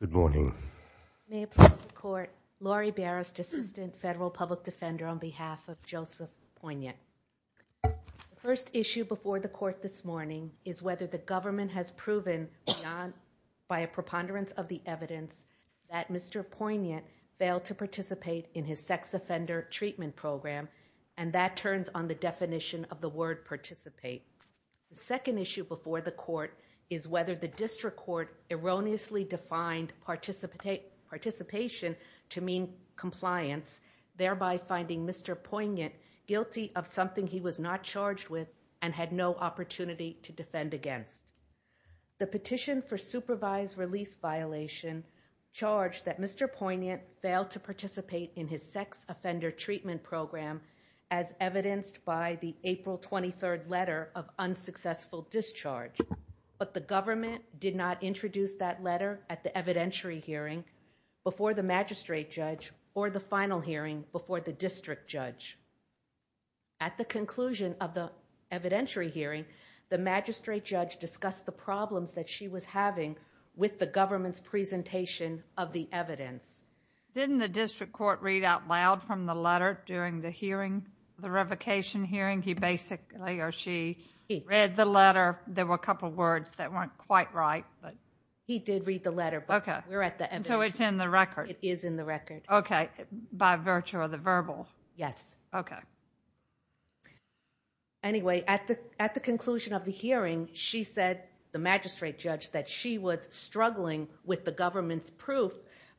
Good morning. May it please the court, Laurie Barrist, Assistant Federal Public Defender on behalf of Joseph Poignant. The first issue before the court this morning is whether the government has proven beyond, by a preponderance of the evidence, that Mr. Poignant failed to participate in his sex offender treatment program, and that turns on the definition of the word participate. The second issue before the court is whether the district court erroneously defined participation to mean compliance, thereby finding Mr. Poignant guilty of something he was not charged with and had no opportunity to defend against. The petition for supervised release violation charged that Mr. Poignant failed to participate in his sex offender treatment program, as evidenced by the April 23rd letter of unsuccessful discharge, but the government did not introduce that letter at the evidentiary hearing before the magistrate judge or the final hearing before the district judge. At the conclusion of the evidentiary hearing, the magistrate judge discussed the problems that she was having with the government's presentation of the evidence. Didn't the district court read out loud from the letter during the hearing, the revocation hearing? He basically or she read the letter. There were a couple of words that weren't quite right. He did read the letter, but we're at the evidence. So it's in the record. It is in the record. Okay, by virtue of the verbal. Yes. Okay. Anyway, at the conclusion of the hearing, she said, the magistrate judge, that she was struggling with the government's proof,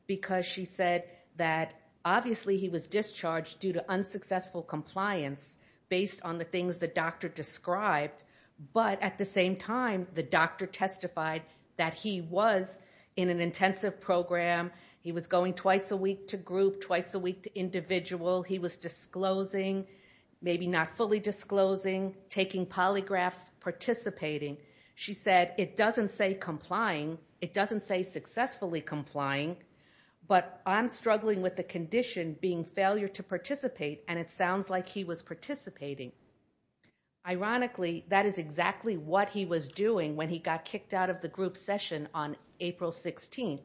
because she said that obviously he was discharged due to unsuccessful compliance based on the things the doctor described. But at the same time, the doctor testified that he was in an intensive program. He was going twice a week to group, twice a week to individual. He was disclosing, maybe not fully disclosing, taking polygraphs, participating. She said, it doesn't say complying. It doesn't say successfully complying. But I'm struggling with the condition being failure to participate, and it sounds like he was participating. Ironically, that is exactly what he was doing when he got kicked out of the group session on April 16th.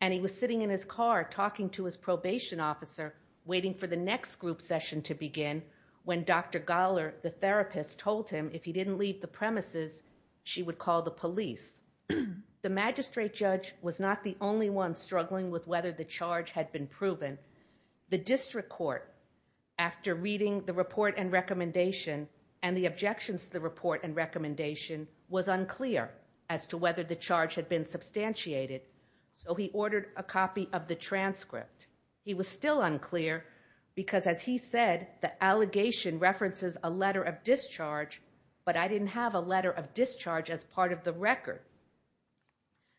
And he was sitting in his car talking to his probation officer, waiting for the next group session to begin, when Dr. Gollar, the therapist, told him if he didn't leave the premises, she would call the police. The magistrate judge was not the only one struggling with whether the charge had been proven. The district court, after reading the report and recommendation, and the objections to the report and recommendation, was unclear as to whether the charge had been substantiated. So he ordered a copy of the transcript. He was still unclear because, as he said, the allegation references a letter of discharge, but I didn't have a letter of discharge as part of the record.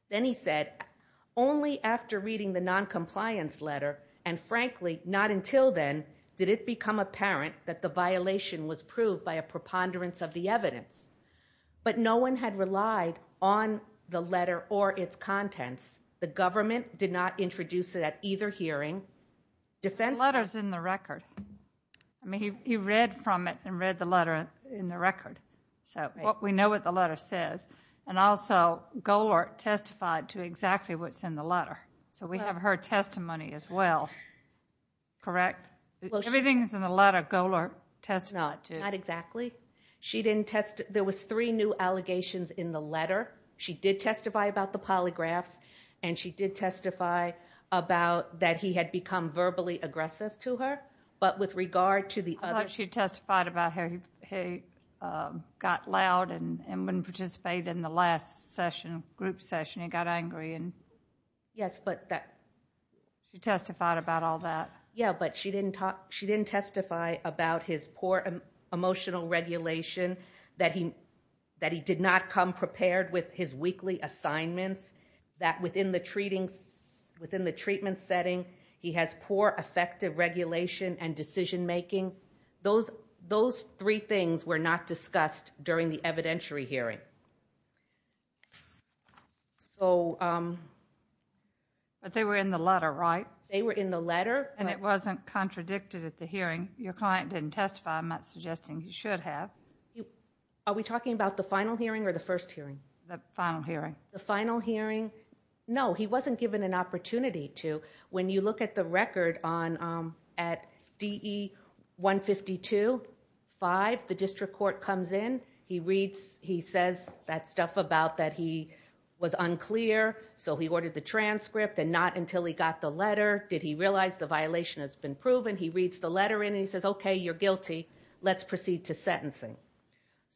Then he said, only after reading the noncompliance letter, and frankly, not until then, did it become apparent that the violation was proved by a preponderance of the evidence. But no one had relied on the letter or its contents. The government did not introduce it at either hearing. The letter is in the record. He read from it and read the letter in the record. We know what the letter says. And also, Gollar testified to exactly what's in the letter. So we have her testimony as well. Correct? Everything is in the letter Gollar testified to. Not exactly. There was three new allegations in the letter. She did testify about the polygraphs, and she did testify about that he had become verbally aggressive to her. But with regard to the other- I thought she testified about how he got loud and wouldn't participate in the last group session. He got angry. Yes, but that- She testified about all that. Yes, but she didn't testify about his poor emotional regulation, that he did not come prepared with his weekly assignments, that within the treatment setting, he has poor effective regulation and decision-making. Those three things were not discussed during the evidentiary hearing. But they were in the letter, right? They were in the letter. And it wasn't contradicted at the hearing. Your client didn't testify. I'm not suggesting he should have. Are we talking about the final hearing or the first hearing? The final hearing. The final hearing? No, he wasn't given an opportunity to. When you look at the record at DE 152.5, the district court comes in. He reads, he says that stuff about that he was unclear, so he ordered the transcript, and not until he got the letter did he realize the violation has been proven. He reads the letter in, and he says, okay, you're guilty. Let's proceed to sentencing.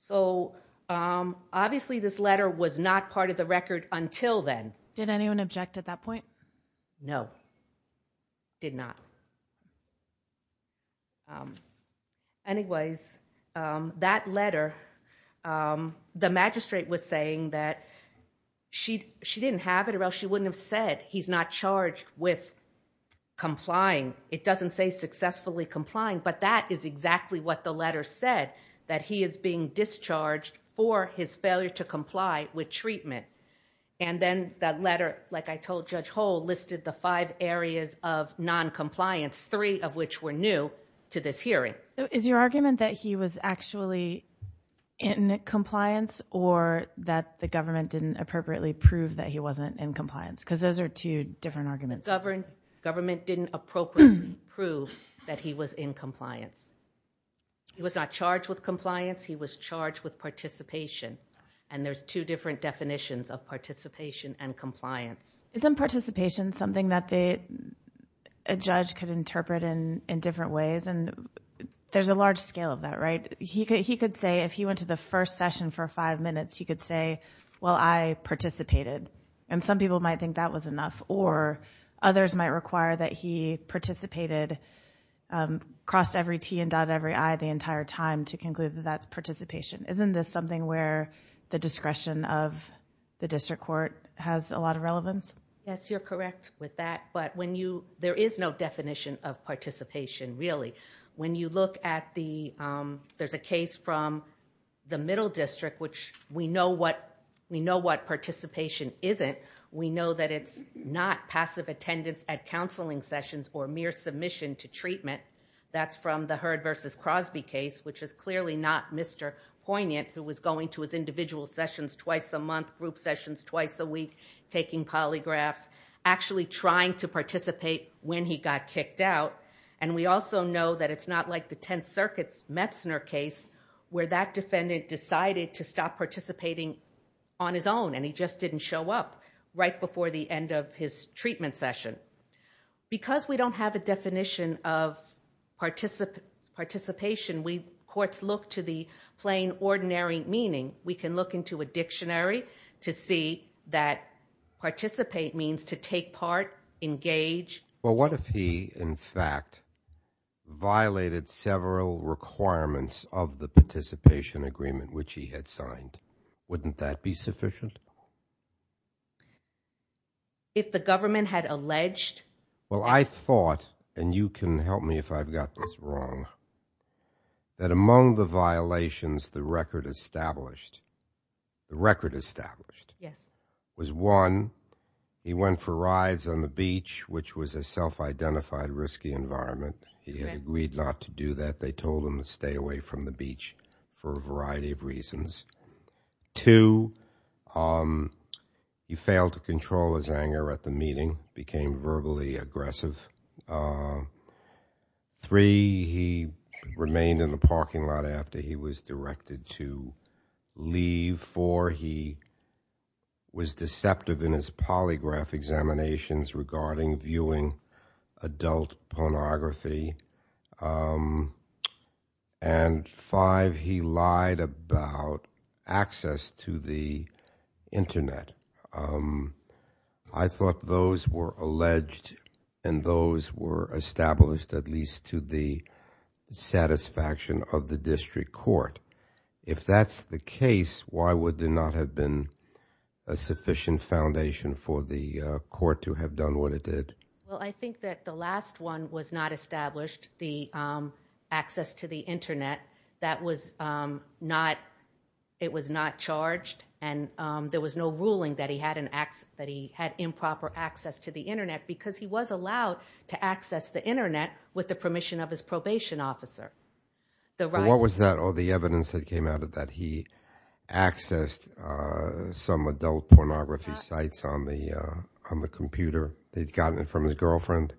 So obviously this letter was not part of the record until then. Did anyone object at that point? No, did not. Anyways, that letter, the magistrate was saying that she didn't have it or else she wouldn't have said he's not charged with complying. It doesn't say successfully complying, but that is exactly what the letter said, that he is being discharged for his failure to comply with treatment. And then that letter, like I told Judge Hull, listed the five areas of noncompliance, three of which were new to this hearing. Is your argument that he was actually in compliance or that the government didn't appropriately prove that he wasn't in compliance? Because those are two different arguments. Government didn't appropriately prove that he was in compliance. He was not charged with compliance. He was charged with participation, and there's two different definitions of participation and compliance. Isn't participation something that a judge could interpret in different ways? There's a large scale of that, right? He could say, if he went to the first session for five minutes, he could say, well, I participated, and some people might think that was enough, or others might require that he participated, crossed every T and dotted every I the entire time to conclude that that's participation. Isn't this something where the discretion of the district court has a lot of relevance? Yes, you're correct with that, but there is no definition of participation, really. When you look at the... There's a case from the Middle District, which we know what participation isn't. We know that it's not passive attendance at counseling sessions or mere submission to treatment. That's from the Heard v. Crosby case, which is clearly not Mr. Poignant, who was going to his individual sessions twice a month, group sessions twice a week, taking polygraphs, actually trying to participate when he got kicked out. And we also know that it's not like the Tenth Circuit's Metzner case, where that defendant decided to stop participating on his own, and he just didn't show up right before the end of his treatment session. Because we don't have a definition of participation, courts look to the plain, ordinary meaning. We can look into a dictionary to see that participate means to take part, engage. Well, what if he, in fact, violated several requirements of the participation agreement, which he had signed? Wouldn't that be sufficient? If the government had alleged... Well, I thought, and you can help me if I've got this wrong, that among the violations the record established, the record established, was one, he went for rides on the beach, which was a self-identified risky environment. He had agreed not to do that. They told him to stay away from the beach for a variety of reasons. Two, he failed to control his anger at the meeting, became verbally aggressive. Three, he remained in the parking lot after he was directed to leave. Four, he was deceptive in his polygraph examinations regarding viewing adult pornography. And five, he lied about access to the Internet. I thought those were alleged and those were established at least to the satisfaction of the district court. If that's the case, why would there not have been a sufficient foundation for the court to have done what it did? Well, I think that the last one was not established, the access to the Internet. That was not charged and there was no ruling that he had improper access to the Internet because he was allowed to access the Internet with the permission of his probation officer. What was that, all the evidence that came out of that? He accessed some adult pornography sites on the computer. He'd gotten it from his girlfriend.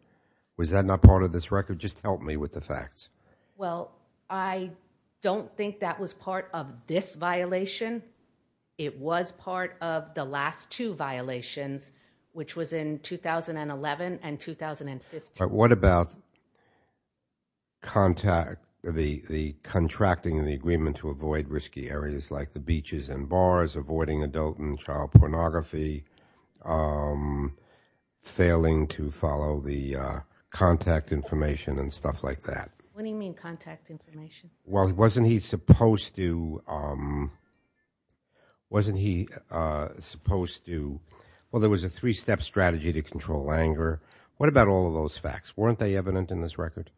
Was that not part of this record? Just help me with the facts. Well, I don't think that was part of this violation. It was part of the last two violations, which was in 2011 and 2015. But what about the contracting of the agreement to avoid risky areas like the beaches and bars, avoiding adult and child pornography, failing to follow the contact information and stuff like that? What do you mean contact information? Well, wasn't he supposed to? Well, there was a three-step strategy to control anger. What about all of those facts? Weren't they evident in this record?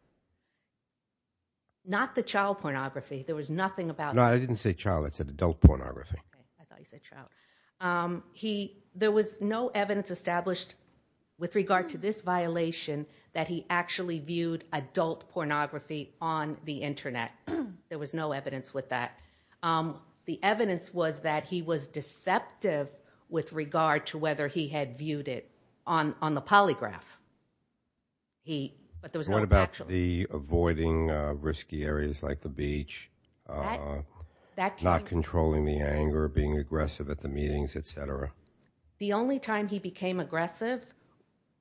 Not the child pornography. There was nothing about that. No, I didn't say child. I said adult pornography. I thought you said child. There was no evidence established with regard to this violation that he actually viewed adult pornography on the Internet. There was no evidence with that. The evidence was that he was deceptive with regard to whether he had viewed it on the polygraph. What about the avoiding risky areas like the beach, not controlling the anger, being aggressive at the meetings, et cetera? The only time he became aggressive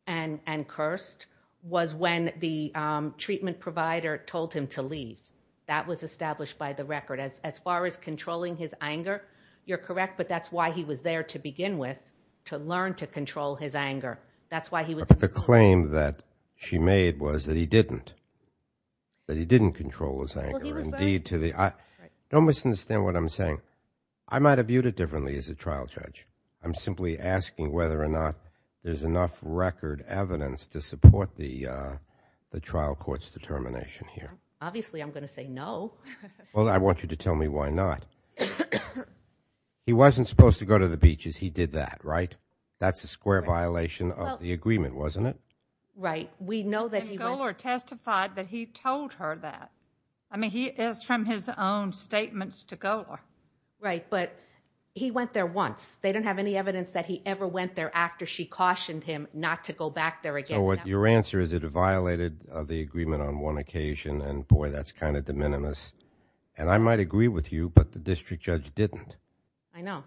and cursed was when the treatment provider told him to leave. That was established by the record. As far as controlling his anger, you're correct, but that's why he was there to begin with, to learn to control his anger. The claim that she made was that he didn't, that he didn't control his anger. Don't misunderstand what I'm saying. I might have viewed it differently as a trial judge. I'm simply asking whether or not there's enough record evidence to support the trial court's determination here. Obviously, I'm going to say no. Well, I want you to tell me why not. He wasn't supposed to go to the beaches. He did that, right? That's a square violation of the agreement, wasn't it? Right. We know that he went. And Golar testified that he told her that. I mean, he is from his own statements to Golar. Right, but he went there once. They don't have any evidence that he ever went there after she cautioned him not to go back there again. So your answer is it violated the agreement on one occasion, and, boy, that's kind of de minimis. And I might agree with you, but the district judge didn't. I know.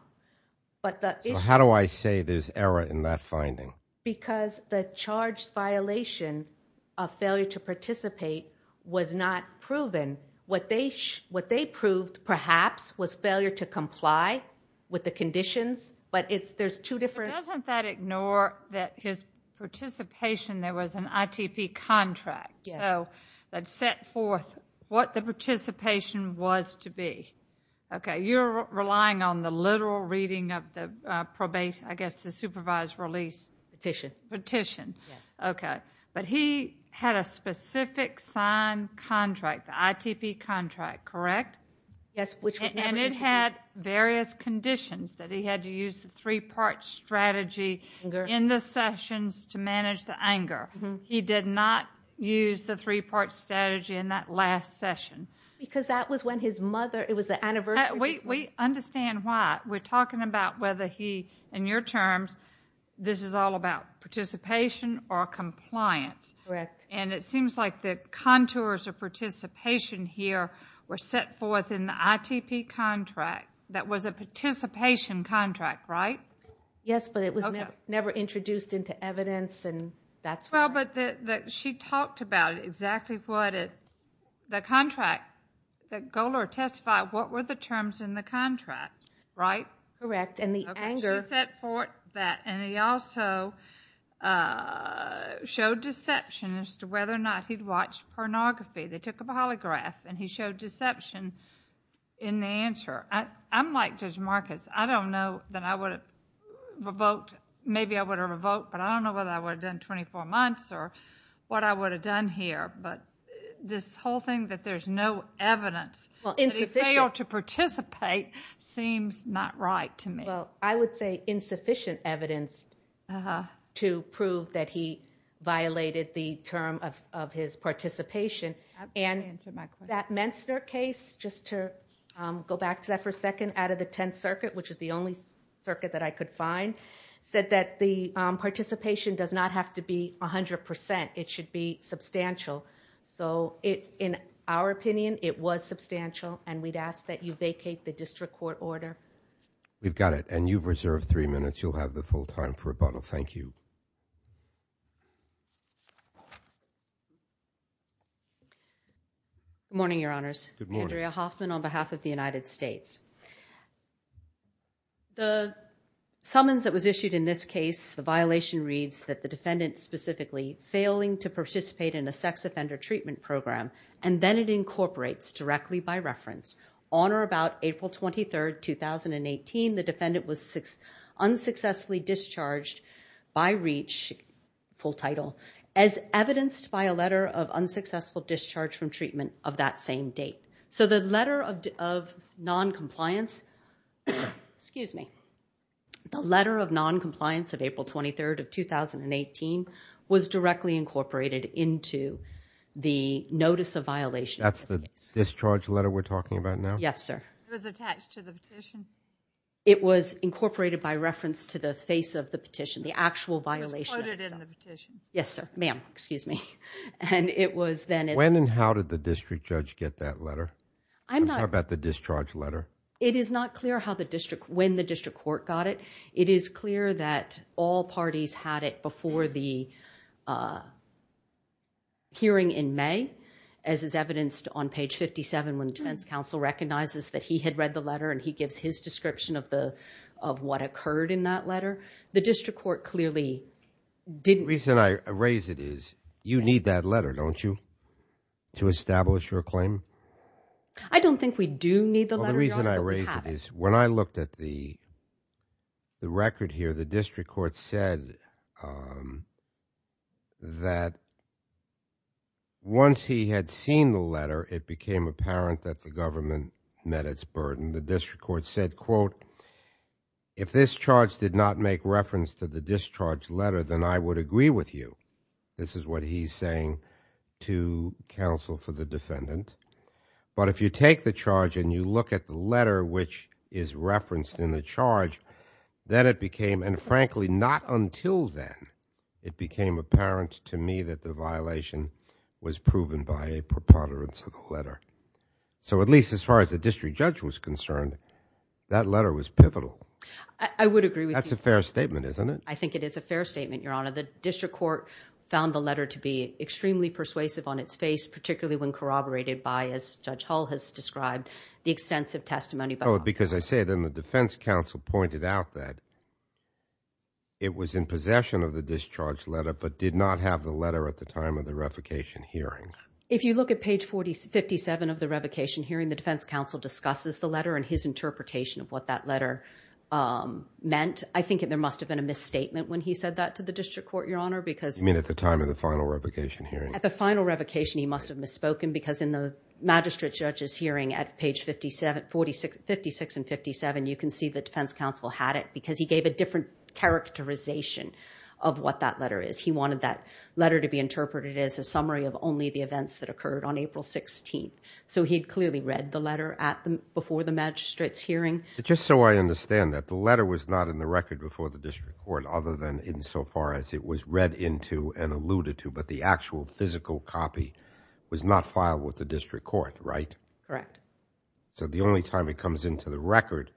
So how do I say there's error in that finding? Because the charged violation of failure to participate was not proven. What they proved, perhaps, was failure to comply with the conditions, but there's two different... But doesn't that ignore that his participation, there was an ITP contract. Yes. So that set forth what the participation was to be. Okay, you're relying on the literal reading of the probation, I guess the supervised release... Petition. Petition. Yes. Okay, but he had a specific signed contract, the ITP contract, correct? Yes, which was never used. And it had various conditions, that he had to use the three-part strategy in the sessions to manage the anger. He did not use the three-part strategy in that last session. Because that was when his mother... It was the anniversary... We understand why. We're talking about whether he, in your terms, this is all about participation or compliance. Correct. And it seems like the contours of participation here were set forth in the ITP contract. That was a participation contract, right? Yes, but it was never introduced into evidence, and that's where... Well, but she talked about exactly what the contract... The goaler testified what were the terms in the contract, right? Correct. And the anger... She set forth that. And he also showed deception as to whether or not he'd watched pornography. They took a polygraph, and he showed deception in the answer. I'm like Judge Marcus. I don't know that I would have revoked... I don't know what I would have done 24 months or what I would have done here. But this whole thing that there's no evidence... Well, insufficient...... that he failed to participate seems not right to me. Well, I would say insufficient evidence... Uh-huh....... to prove that he violated the term of his participation. And that Menstner case, just to go back to that for a second, out of the Tenth Circuit, which is the only circuit that I could find, said that the participation does not have to be 100%. It should be substantial. So in our opinion, it was substantial, and we'd ask that you vacate the district court order. We've got it. And you've reserved three minutes. You'll have the full time for rebuttal. Thank you. Good morning, Your Honors. Good morning. Andrea Hoffman on behalf of the United States. The summons that was issued in this case, the violation reads that the defendant specifically failing to participate in a sex offender treatment program, and then it incorporates directly by reference. On or about April 23, 2018, the defendant was unsuccessfully discharged by reach, full title, as evidenced by a letter of unsuccessful discharge from treatment of that same date. So the letter of noncompliance... Excuse me. The letter of noncompliance of April 23, 2018, was directly incorporated into the notice of violation. That's the discharge letter we're talking about now? Yes, sir. It was attached to the petition? It was incorporated by reference to the face of the petition, the actual violation. It was quoted in the petition? Yes, sir. Ma'am, excuse me. And it was then... I'm talking about the discharge letter. It is not clear when the district court got it. It is clear that all parties had it before the hearing in May, as is evidenced on page 57, when defense counsel recognizes that he had read the letter and he gives his description of what occurred in that letter. The district court clearly didn't... The reason I raise it is you need that letter, don't you, to establish your claim? I don't think we do need the letter. The reason I raise it is when I looked at the record here, the district court said that once he had seen the letter, it became apparent that the government met its burden. The district court said, quote, if this charge did not make reference to the discharge letter, then I would agree with you. This is what he's saying to counsel for the defendant. But if you take the charge and you look at the letter, which is referenced in the charge, then it became... And frankly, not until then, it became apparent to me that the violation was proven by a preponderance of the letter. So at least as far as the district judge was concerned, that letter was pivotal. I would agree with you. That's a fair statement, isn't it? I think it is a fair statement, Your Honor. The district court found the letter to be extremely persuasive on its face, particularly when corroborated by, as Judge Hull has described, the extensive testimony by... Oh, because I say then the defense counsel pointed out that it was in possession of the discharge letter but did not have the letter at the time of the revocation hearing. If you look at page 57 of the revocation hearing, the defense counsel discusses the letter and his interpretation of what that letter meant. I think there must have been a misstatement when he said that to the district court, Your Honor, because... You mean at the time of the final revocation hearing? At the final revocation, he must have misspoken because in the magistrate judge's hearing at page 56 and 57, you can see the defense counsel had it because he gave a different characterization of what that letter is. He wanted that letter to be interpreted as a summary of only the events that occurred on April 16th. So he clearly read the letter before the magistrate's hearing. Just so I understand that, the letter was not in the record before the district court other than insofar as it was read into and alluded to, but the actual physical copy was not filed with the district court, right? Correct. So the only time it comes into the record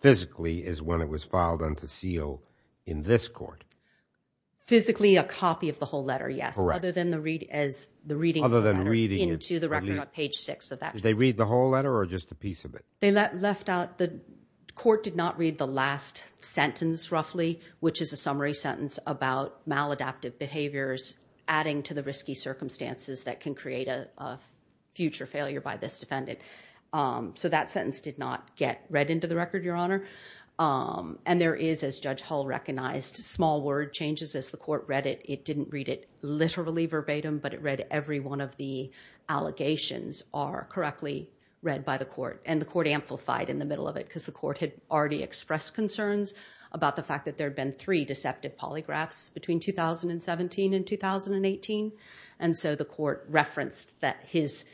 physically is when it was filed unto seal in this court. Physically a copy of the whole letter, yes, other than the reading of the letter into the record on page 6 of that. Did they read the whole letter or just a piece of it? The court did not read the last sentence roughly, which is a summary sentence about maladaptive behaviors adding to the risky circumstances that can create a future failure by this defendant. So that sentence did not get read into the record, Your Honor. And there is, as Judge Hull recognized, small word changes as the court read it. It didn't read it literally verbatim, but it read every one of the allegations are correctly read by the court. And the court amplified in the middle of it because the court had already expressed concerns about the fact that there had been three deceptive polygraphs between 2017 and 2018. And so the court referenced that his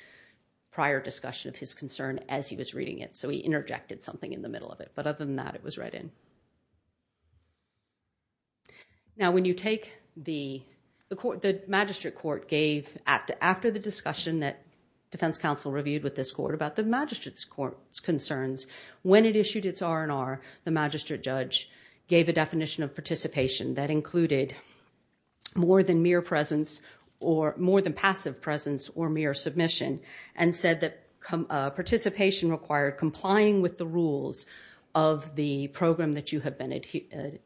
prior discussion of his concern as he was reading it. So he interjected something in the middle of it. But other than that, it was read in. Now, when you take the court, the magistrate court gave after the discussion that defense counsel reviewed with this court about the magistrate's concerns. When it issued its R&R, the magistrate judge gave a definition of participation that included more than mere presence or more than passive presence or mere submission and said that participation required complying with the rules of the program that you have been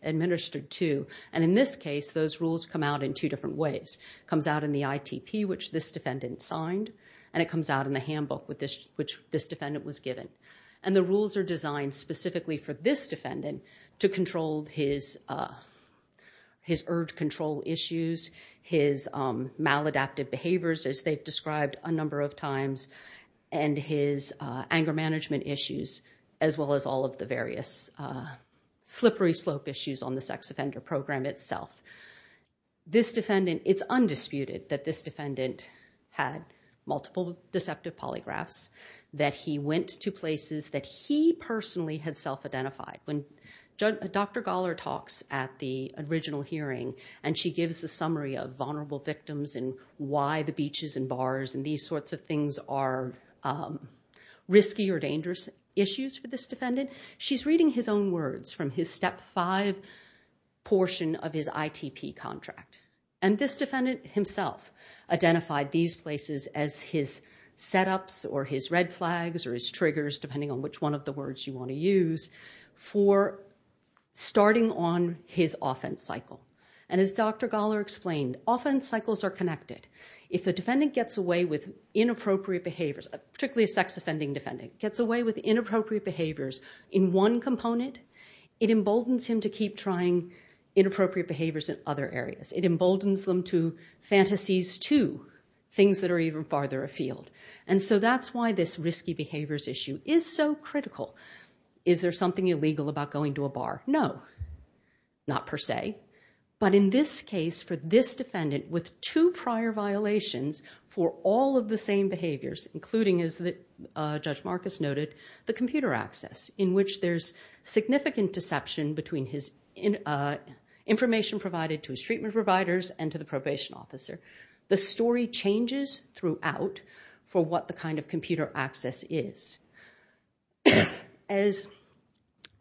administered to. And in this case, those rules come out in two different ways. It comes out in the ITP, which this defendant signed, and it comes out in the handbook, which this defendant was given. And the rules are designed specifically for this defendant to control his urge control issues, his maladaptive behaviors, as they've described a number of times, and his anger management issues, as well as all of the various slippery slope issues on the sex offender program itself. It's undisputed that this defendant had multiple deceptive polygraphs, that he went to places that he personally had self-identified. When Dr. Galler talks at the original hearing and she gives a summary of vulnerable victims and why the beaches and bars and these sorts of things are risky or dangerous issues for this defendant, she's reading his own words from his Step 5 portion of his ITP contract. And this defendant himself identified these places as his set-ups or his red flags or his triggers, depending on which one of the words you want to use, for starting on his offense cycle. And as Dr. Galler explained, offense cycles are connected. If the defendant gets away with inappropriate behaviors, particularly a sex-offending defendant, gets away with inappropriate behaviors in one component, it emboldens him to keep trying inappropriate behaviors in other areas. It emboldens them to fantasies, too, things that are even farther afield. And so that's why this risky behaviors issue is so critical. Is there something illegal about going to a bar? No, not per se. But in this case, for this defendant, with two prior violations for all of the same behaviors, including, as Judge Marcus noted, the computer access, in which there's significant deception between his information provided to his treatment providers and to the probation officer, the story changes throughout for what the kind of computer access is. As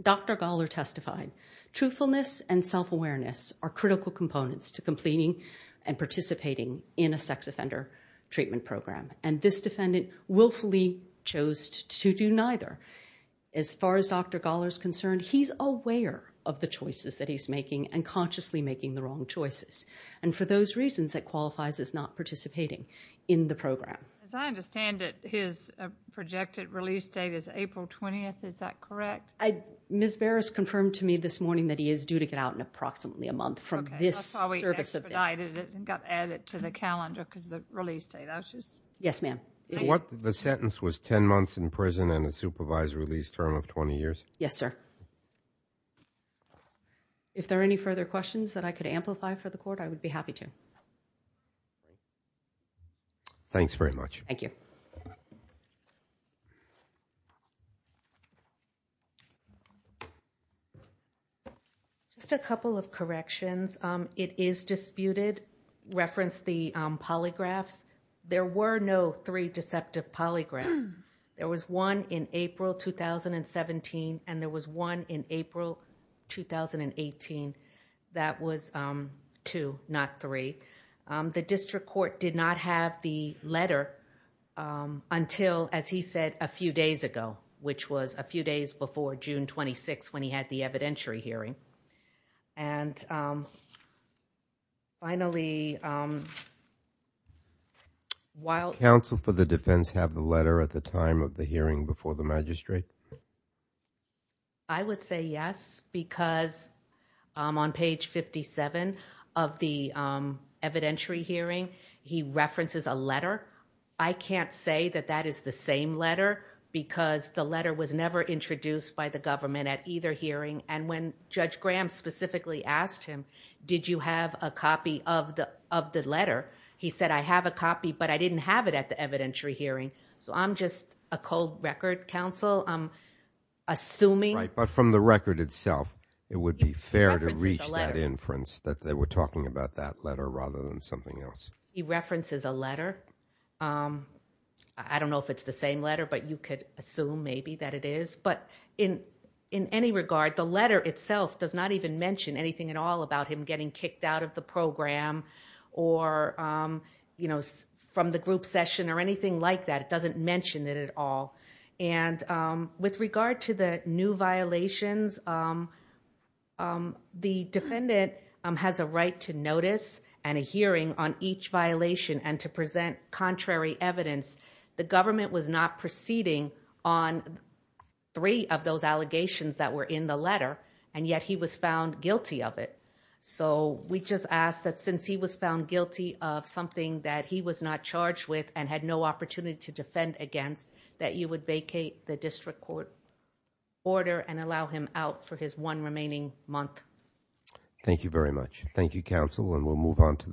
Dr. Galler testified, truthfulness and self-awareness are critical components to completing and participating in a sex offender treatment program. And this defendant willfully chose to do neither. As far as Dr. Galler is concerned, he's aware of the choices that he's making and consciously making the wrong choices. And for those reasons, that qualifies as not participating in the program. As I understand it, his projected release date is April 20th. Is that correct? Ms. Barris confirmed to me this morning that he is due to get out in approximately a month from this service. Okay, that's why we expedited it and got added to the calendar because of the release date. Yes, ma'am. The sentence was 10 months in prison and a supervised release term of 20 years? Yes, sir. If there are any further questions that I could amplify for the court, I would be happy to. Thanks very much. Thank you. Just a couple of corrections. It is disputed. Reference the polygraphs. There were no three deceptive polygraphs. There was one in April 2017 and there was one in April 2018. That was two, not three. The district court did not have the letter until, as he said, a few days ago, which was a few days before June 26th when he had the evidentiary hearing. Finally... Counsel for the defense have the letter at the time of the hearing before the magistrate? I would say yes because on page 57 of the evidentiary hearing, he references a letter. I can't say that that is the same letter because the letter was never introduced by the government at either hearing and when Judge Graham specifically asked him, did you have a copy of the letter? He said, I have a copy, but I didn't have it at the evidentiary hearing. So I'm just a cold record counsel. I'm assuming... But from the record itself, it would be fair to reach that inference that they were talking about that letter rather than something else. He references a letter. I don't know if it's the same letter, but you could assume maybe that it is. But in any regard, the letter itself does not even mention anything at all about him getting kicked out of the program or from the group session or anything like that. It doesn't mention it at all. And with regard to the new violations, the defendant has a right to notice and a hearing on each violation and to present contrary evidence. The government was not proceeding on three of those allegations that were in the letter, and yet he was found guilty of it. So we just ask that since he was found guilty of something that he was not charged with and had no opportunity to defend against, that you would vacate the district court order and allow him out for his one remaining month. Thank you, counsel. And we'll move on to...